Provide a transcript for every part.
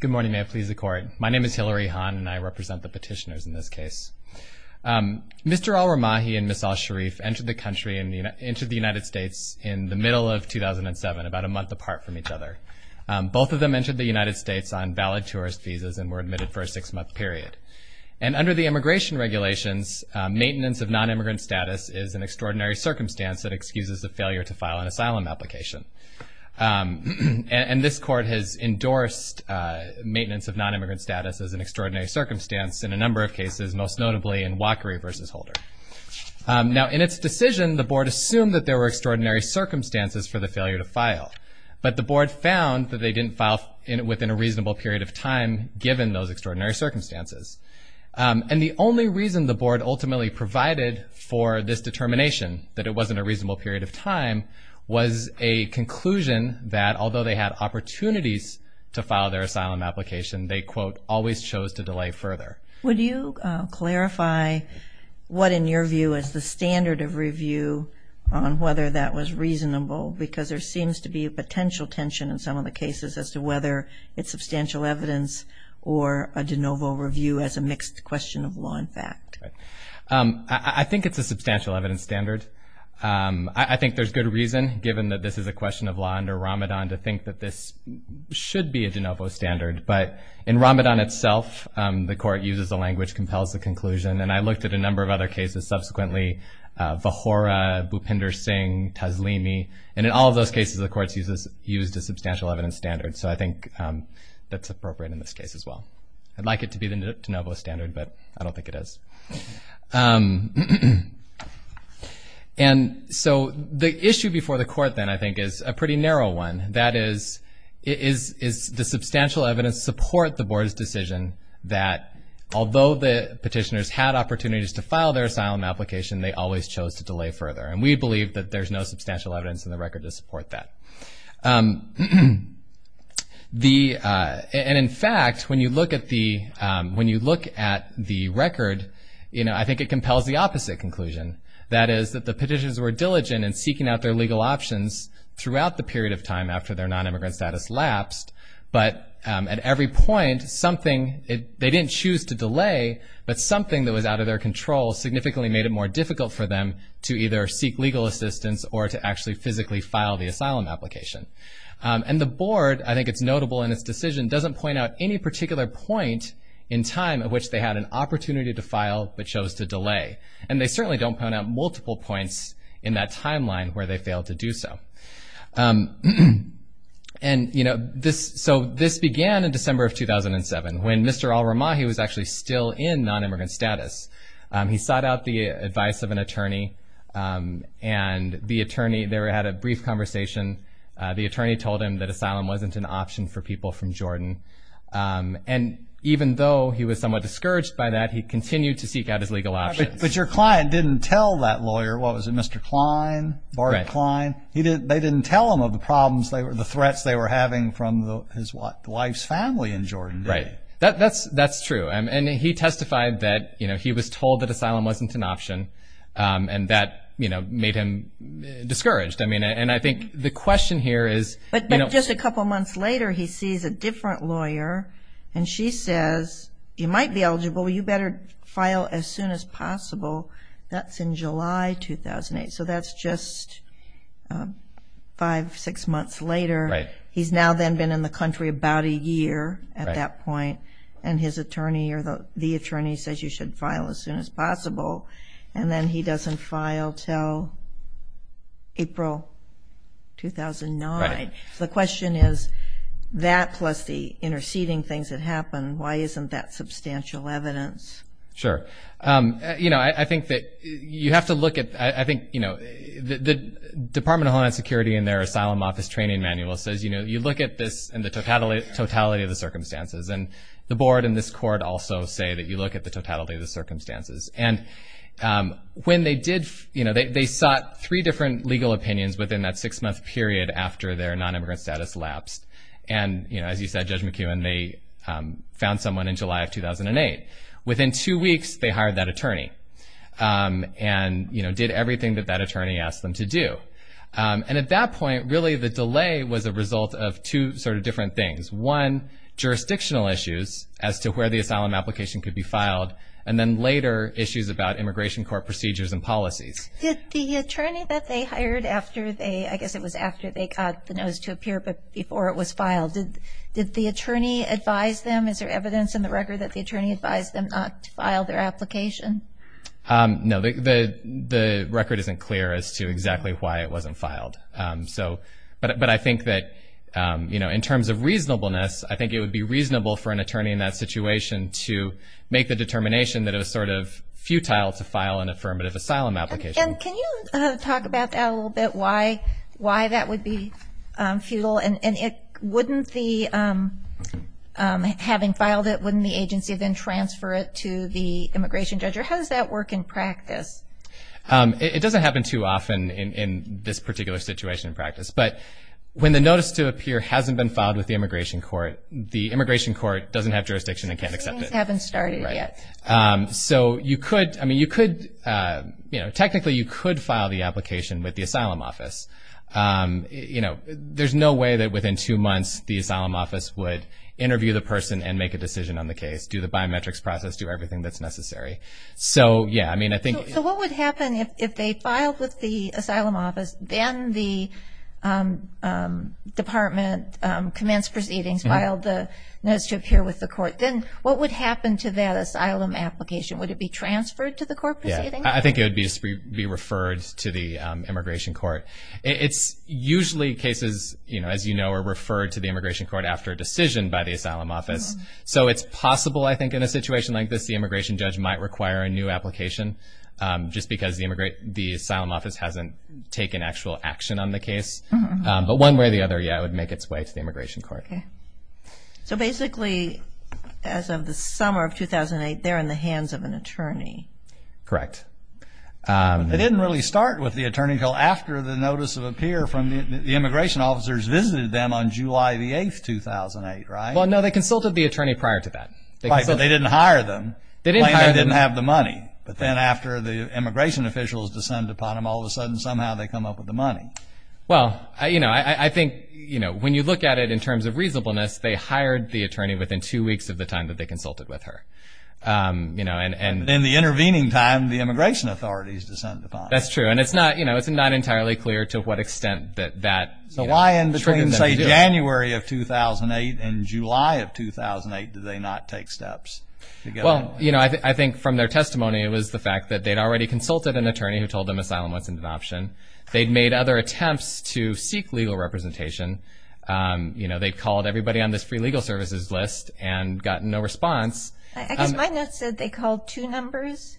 Good morning, may it please the Court. My name is Hillary Hahn and I represent the petitioners in this case. Mr. Al Ramahi and Ms. Al Sharif entered the United States in the middle of 2007, about a month apart from each other. Both of them entered the United States on valid tourist visas and were admitted for a six-month period. And under the immigration regulations, maintenance of non-immigrant status is an extraordinary circumstance that excuses the failure to file an asylum application. And this Court has endorsed maintenance of non-immigrant status as an extraordinary circumstance in a number of cases, most notably in Walkery v. Holder. Now, in its decision, the Board assumed that there were extraordinary circumstances for the failure to file. But the Board found that they didn't file within a reasonable period of time, given those extraordinary circumstances. And the only reason the Board ultimately provided for this determination, that it wasn't a reasonable period of time, was a conclusion that although they had opportunities to file their asylum application, they, quote, always chose to delay further. Would you clarify what, in your view, is the standard of review on whether that was reasonable? Because there seems to be a potential tension in some of the cases as to whether it's substantial evidence or a de novo review as a mixed question of law and fact. Right. I think it's a substantial evidence standard. I think there's good reason, given that this is a question of law under Ramadan, to think that this should be a de novo standard. But in Ramadan itself, the Court uses the language, compels the conclusion. And I looked at a number of other cases subsequently, Vahora, Bhupinder Singh, Taslimi. And in all of those cases, the Court's used a substantial evidence standard. So I think that's appropriate in this case as well. I'd like it to be the de novo standard, but I don't think it is. And so the issue before the Court then, I think, is a pretty narrow one. That is, does substantial evidence support the Board's decision that, although the petitioners had opportunities to file their asylum application, they always chose to delay further? And we believe that there's no substantial evidence in the record to support that. And, in fact, when you look at the record, I think it compels the opposite conclusion. That is, that the petitioners were diligent in seeking out their legal options throughout the period of time after their nonimmigrant status lapsed, but at every point, they didn't choose to delay, but something that was out of their control significantly made it more difficult for them to either seek legal assistance or to actually physically file the asylum application. And the Board, I think it's notable in its decision, doesn't point out any particular point in time at which they had an opportunity to file but chose to delay. And they certainly don't point out multiple points in that timeline where they failed to do so. And, you know, so this began in December of 2007, when Mr. Alramahi was actually still in nonimmigrant status. He sought out the advice of an attorney, and the attorney there had a brief conversation. The attorney told him that asylum wasn't an option for people from Jordan. And even though he was somewhat discouraged by that, he continued to seek out his legal options. But your client didn't tell that lawyer, what was it, Mr. Klein, Barbara Klein? They didn't tell him of the problems, the threats they were having from his wife's family in Jordan. Right. That's true. And he testified that, you know, he was told that asylum wasn't an option, and that, you know, made him discouraged. I mean, and I think the question here is, you know. But just a couple months later, he sees a different lawyer, and she says, you might be eligible, you better file as soon as possible. That's in July 2008, so that's just five, six months later. Right. He's now then been in the country about a year at that point, and his attorney or the attorney says you should file as soon as possible. And then he doesn't file until April 2009. So the question is, that plus the interceding things that happened, why isn't that substantial evidence? Sure. You know, I think that you have to look at, I think, you know, the Department of Homeland Security in their asylum office training manual says, you know, the board and this court also say that you look at the totality of the circumstances. And when they did, you know, they sought three different legal opinions within that six-month period after their nonimmigrant status lapsed. And, you know, as you said, Judge McKeown, they found someone in July of 2008. Within two weeks, they hired that attorney and, you know, did everything that that attorney asked them to do. And at that point, really the delay was a result of two sort of different things. One, jurisdictional issues as to where the asylum application could be filed, and then later issues about immigration court procedures and policies. Did the attorney that they hired after they, I guess it was after they got the notice to appear but before it was filed, did the attorney advise them? Is there evidence in the record that the attorney advised them not to file their application? No. The record isn't clear as to exactly why it wasn't filed. But I think that, you know, in terms of reasonableness, I think it would be reasonable for an attorney in that situation to make the determination that it was sort of futile to file an affirmative asylum application. And can you talk about that a little bit, why that would be futile? And having filed it, wouldn't the agency then transfer it to the immigration judge? Or how does that work in practice? It doesn't happen too often in this particular situation in practice. But when the notice to appear hasn't been filed with the immigration court, the immigration court doesn't have jurisdiction and can't accept it. Things haven't started yet. Right. So you could, I mean, you could, you know, technically you could file the application with the asylum office. You know, there's no way that within two months the asylum office would interview the person and make a decision on the case, do the biometrics process, do everything that's necessary. So, yeah, I mean, I think. So what would happen if they filed with the asylum office, then the department commenced proceedings, filed the notice to appear with the court, then what would happen to that asylum application? Would it be transferred to the court proceeding? Yeah, I think it would be referred to the immigration court. It's usually cases, you know, as you know, are referred to the immigration court after a decision by the asylum office. So it's possible, I think, in a situation like this, the immigration judge might require a new application just because the asylum office hasn't taken actual action on the case. But one way or the other, yeah, it would make its way to the immigration court. Okay. So basically, as of the summer of 2008, they're in the hands of an attorney. Correct. They didn't really start with the attorney until after the notice of appear from the immigration officers visited them on July the 8th, 2008, right? Well, no, they consulted the attorney prior to that. Right, but they didn't hire them. They didn't hire them. They didn't have the money. But then after the immigration officials descended upon them, all of a sudden somehow they come up with the money. Well, you know, I think, you know, when you look at it in terms of reasonableness, they hired the attorney within two weeks of the time that they consulted with her, you know. And in the intervening time, the immigration authorities descended upon her. That's true. And it's not, you know, it's not entirely clear to what extent that, you know, Between, say, January of 2008 and July of 2008, did they not take steps? Well, you know, I think from their testimony, it was the fact that they'd already consulted an attorney who told them asylum wasn't an option. They'd made other attempts to seek legal representation. You know, they'd called everybody on this free legal services list and gotten no response. I guess my notes said they called two numbers.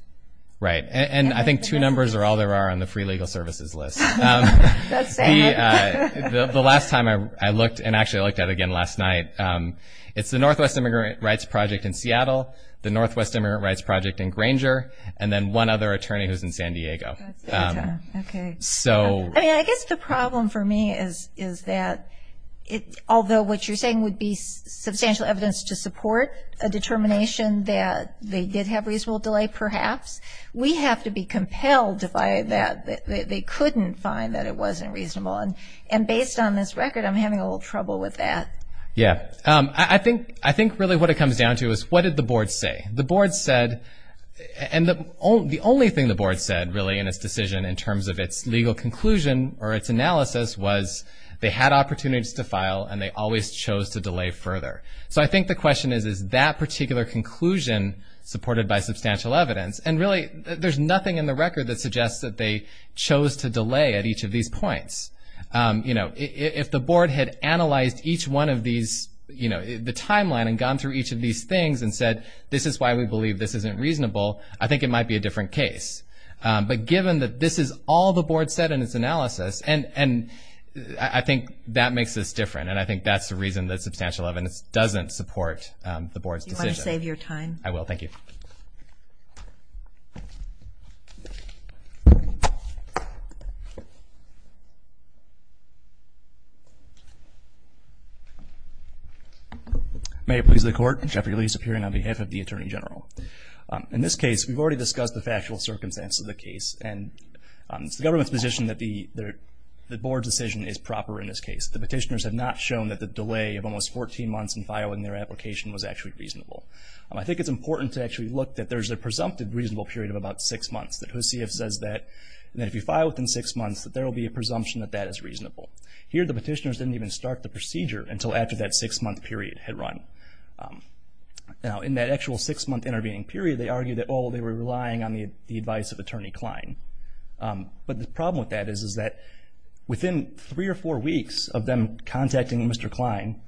Right, and I think two numbers are all there are on the free legal services list. That's sad. The last time I looked, and actually I looked at it again last night, it's the Northwest Immigrant Rights Project in Seattle, the Northwest Immigrant Rights Project in Granger, and then one other attorney who's in San Diego. Okay. I mean, I guess the problem for me is that although what you're saying would be substantial evidence to support a determination that they did have reasonable delay perhaps, we have to be compelled by that, that they couldn't find that it wasn't reasonable. And based on this record, I'm having a little trouble with that. Yeah. I think really what it comes down to is what did the board say? The board said, and the only thing the board said really in its decision in terms of its legal conclusion or its analysis was they had opportunities to file and they always chose to delay further. So I think the question is, is that particular conclusion supported by substantial evidence? And really there's nothing in the record that suggests that they chose to delay at each of these points. You know, if the board had analyzed each one of these, you know, the timeline and gone through each of these things and said this is why we believe this isn't reasonable, I think it might be a different case. But given that this is all the board said in its analysis, and I think that makes us different, and I think that's the reason that substantial evidence doesn't support the board's decision. Do you want to save your time? I will. Thank you. May it please the Court. Jeffrey Lee, Superior, on behalf of the Attorney General. In this case, we've already discussed the factual circumstance of the case, and it's the government's position that the board's decision is proper in this case. The petitioners have not shown that the delay of almost 14 months in filing their application was actually reasonable. I think it's important to actually look that there's a presumptive reasonable period of about six months, that HUSIF says that if you file within six months, that there will be a presumption that that is reasonable. Here the petitioners didn't even start the procedure until after that six-month period had run. Now in that actual six-month intervening period, they argued that, oh, they were relying on the advice of Attorney Klein. But the problem with that is that within three or four weeks of them contacting Mr. Klein,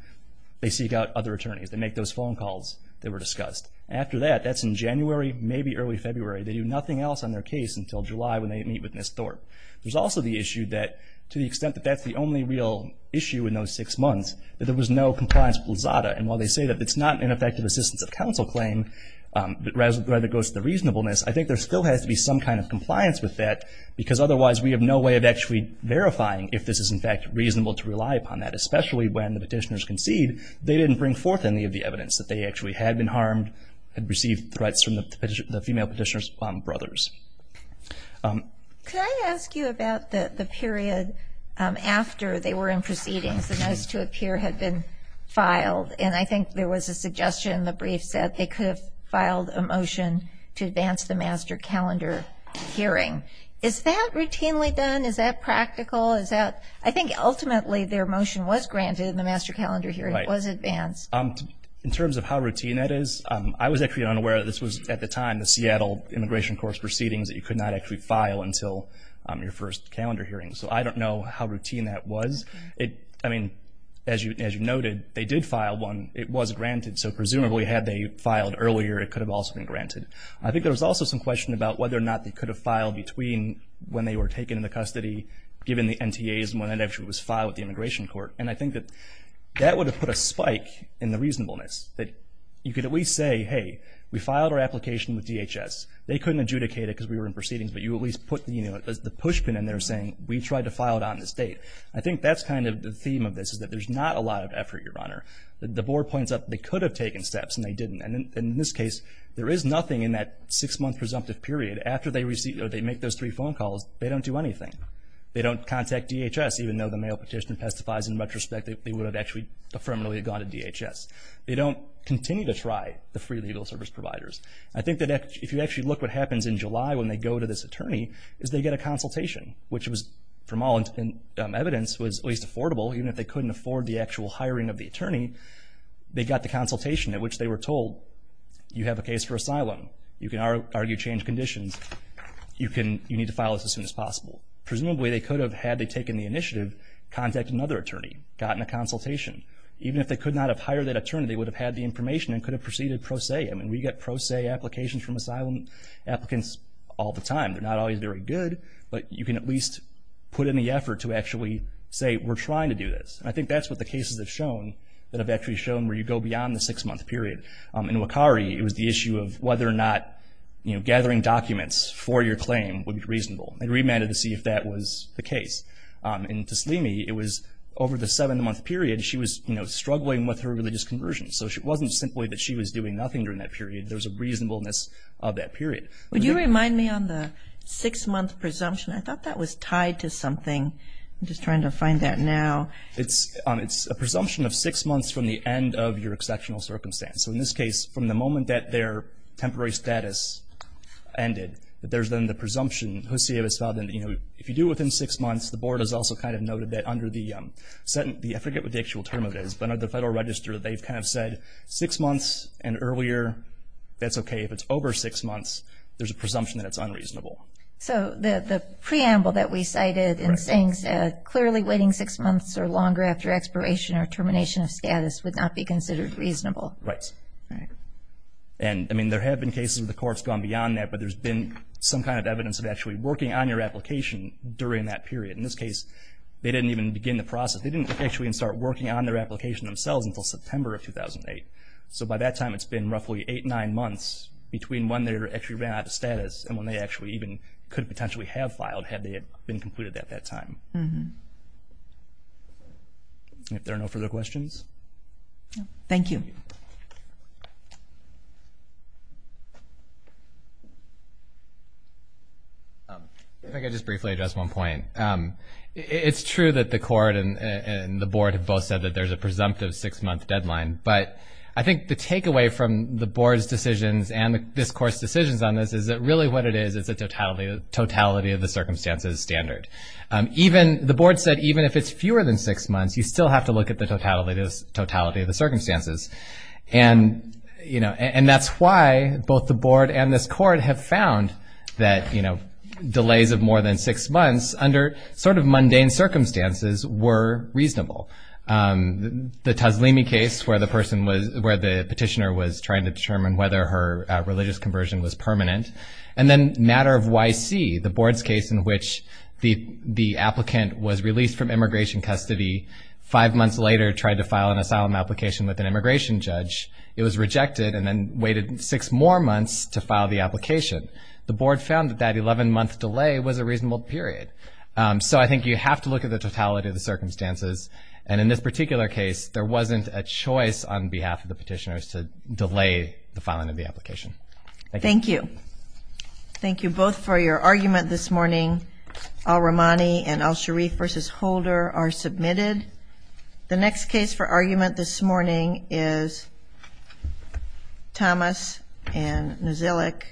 they seek out other attorneys. They make those phone calls that were discussed. After that, that's in January, maybe early February. They do nothing else on their case until July when they meet with Ms. Thorpe. There's also the issue that to the extent that that's the only real issue in those six months, that there was no compliance plazada. And while they say that it's not an ineffective assistance of counsel claim, rather it goes to the reasonableness, I think there still has to be some kind of compliance with that, because otherwise we have no way of actually verifying if this is in fact reasonable to rely upon that, especially when the petitioners concede they didn't bring forth any of the evidence that they actually had been harmed, had received threats from the female petitioner's brothers. Could I ask you about the period after they were in proceedings, the notice to appear had been filed, and I think there was a suggestion in the briefs that they could have filed a motion to advance the master calendar hearing. Is that routinely done? Is that practical? I think ultimately their motion was granted and the master calendar hearing was advanced. In terms of how routine that is, I was actually unaware that this was at the time the Seattle Immigration Court's proceedings that you could not actually file until your first calendar hearing, so I don't know how routine that was. I mean, as you noted, they did file one. It was granted, so presumably had they filed earlier, it could have also been granted. between when they were taken into custody, given the NTAs, and when that actually was filed with the Immigration Court, and I think that that would have put a spike in the reasonableness, that you could at least say, hey, we filed our application with DHS. They couldn't adjudicate it because we were in proceedings, but you at least put the pushpin in there saying we tried to file it on this date. I think that's kind of the theme of this is that there's not a lot of effort, Your Honor. The board points out they could have taken steps and they didn't, and in this case there is nothing in that six-month presumptive period after they make those three phone calls, they don't do anything. They don't contact DHS, even though the mail petition testifies in retrospect that they would have actually ephemerally gone to DHS. They don't continue to try the free legal service providers. I think that if you actually look what happens in July when they go to this attorney, is they get a consultation, which from all evidence was at least affordable, even if they couldn't afford the actual hiring of the attorney. They got the consultation at which they were told, you have a case for asylum. You can argue change conditions. You need to file this as soon as possible. Presumably they could have, had they taken the initiative, contacted another attorney, gotten a consultation. Even if they could not have hired that attorney, they would have had the information and could have proceeded pro se. I mean, we get pro se applications from asylum applicants all the time. They're not always very good, but you can at least put in the effort to actually say we're trying to do this. And I think that's what the cases have shown, that have actually shown where you go beyond the six-month period. In Wakari, it was the issue of whether or not gathering documents for your claim would be reasonable. They remanded to see if that was the case. In Taslimi, it was over the seven-month period, she was struggling with her religious conversion. So it wasn't simply that she was doing nothing during that period. There was a reasonableness of that period. Would you remind me on the six-month presumption? I thought that was tied to something. I'm just trying to find that now. It's a presumption of six months from the end of your exceptional circumstance. So in this case, from the moment that their temporary status ended, there's then the presumption. Jose has found that, you know, if you do it within six months, the Board has also kind of noted that under the, I forget what the actual term of it is, but under the Federal Register, they've kind of said six months and earlier, that's okay. If it's over six months, there's a presumption that it's unreasonable. So the preamble that we cited in saying clearly waiting six months or longer after expiration or termination of status would not be considered reasonable. Right. Right. And, I mean, there have been cases where the court's gone beyond that, but there's been some kind of evidence of actually working on your application during that period. In this case, they didn't even begin the process. They didn't actually even start working on their application themselves until September of 2008. So by that time, it's been roughly eight, nine months between when they actually ran out of status and when they actually even could potentially have filed had they been completed at that time. If there are no further questions. Thank you. If I could just briefly address one point. It's true that the court and the Board have both said that there's a presumptive six-month deadline, but I think the takeaway from the Board's decisions and this Court's decisions on this is that really what it is, it's a totality of the circumstances standard. The Board said even if it's fewer than six months, you still have to look at the totality of the circumstances. And that's why both the Board and this Court have found that delays of more than six months under sort of mundane circumstances were reasonable. The Tazlimi case where the petitioner was trying to determine whether her religious conversion was permanent, and then Matter of YC, the Board's case in which the applicant was released from immigration custody, five months later tried to file an asylum application with an immigration judge, it was rejected and then waited six more months to file the application. The Board found that that 11-month delay was a reasonable period. So I think you have to look at the totality of the circumstances. And in this particular case, there wasn't a choice on behalf of the petitioners to delay the filing of the application. Thank you. Thank you. Thank you both for your argument this morning. Al-Rahmani and Al-Sharif v. Holder are submitted. The next case for argument this morning is Thomas and Nozilic v. Thomas.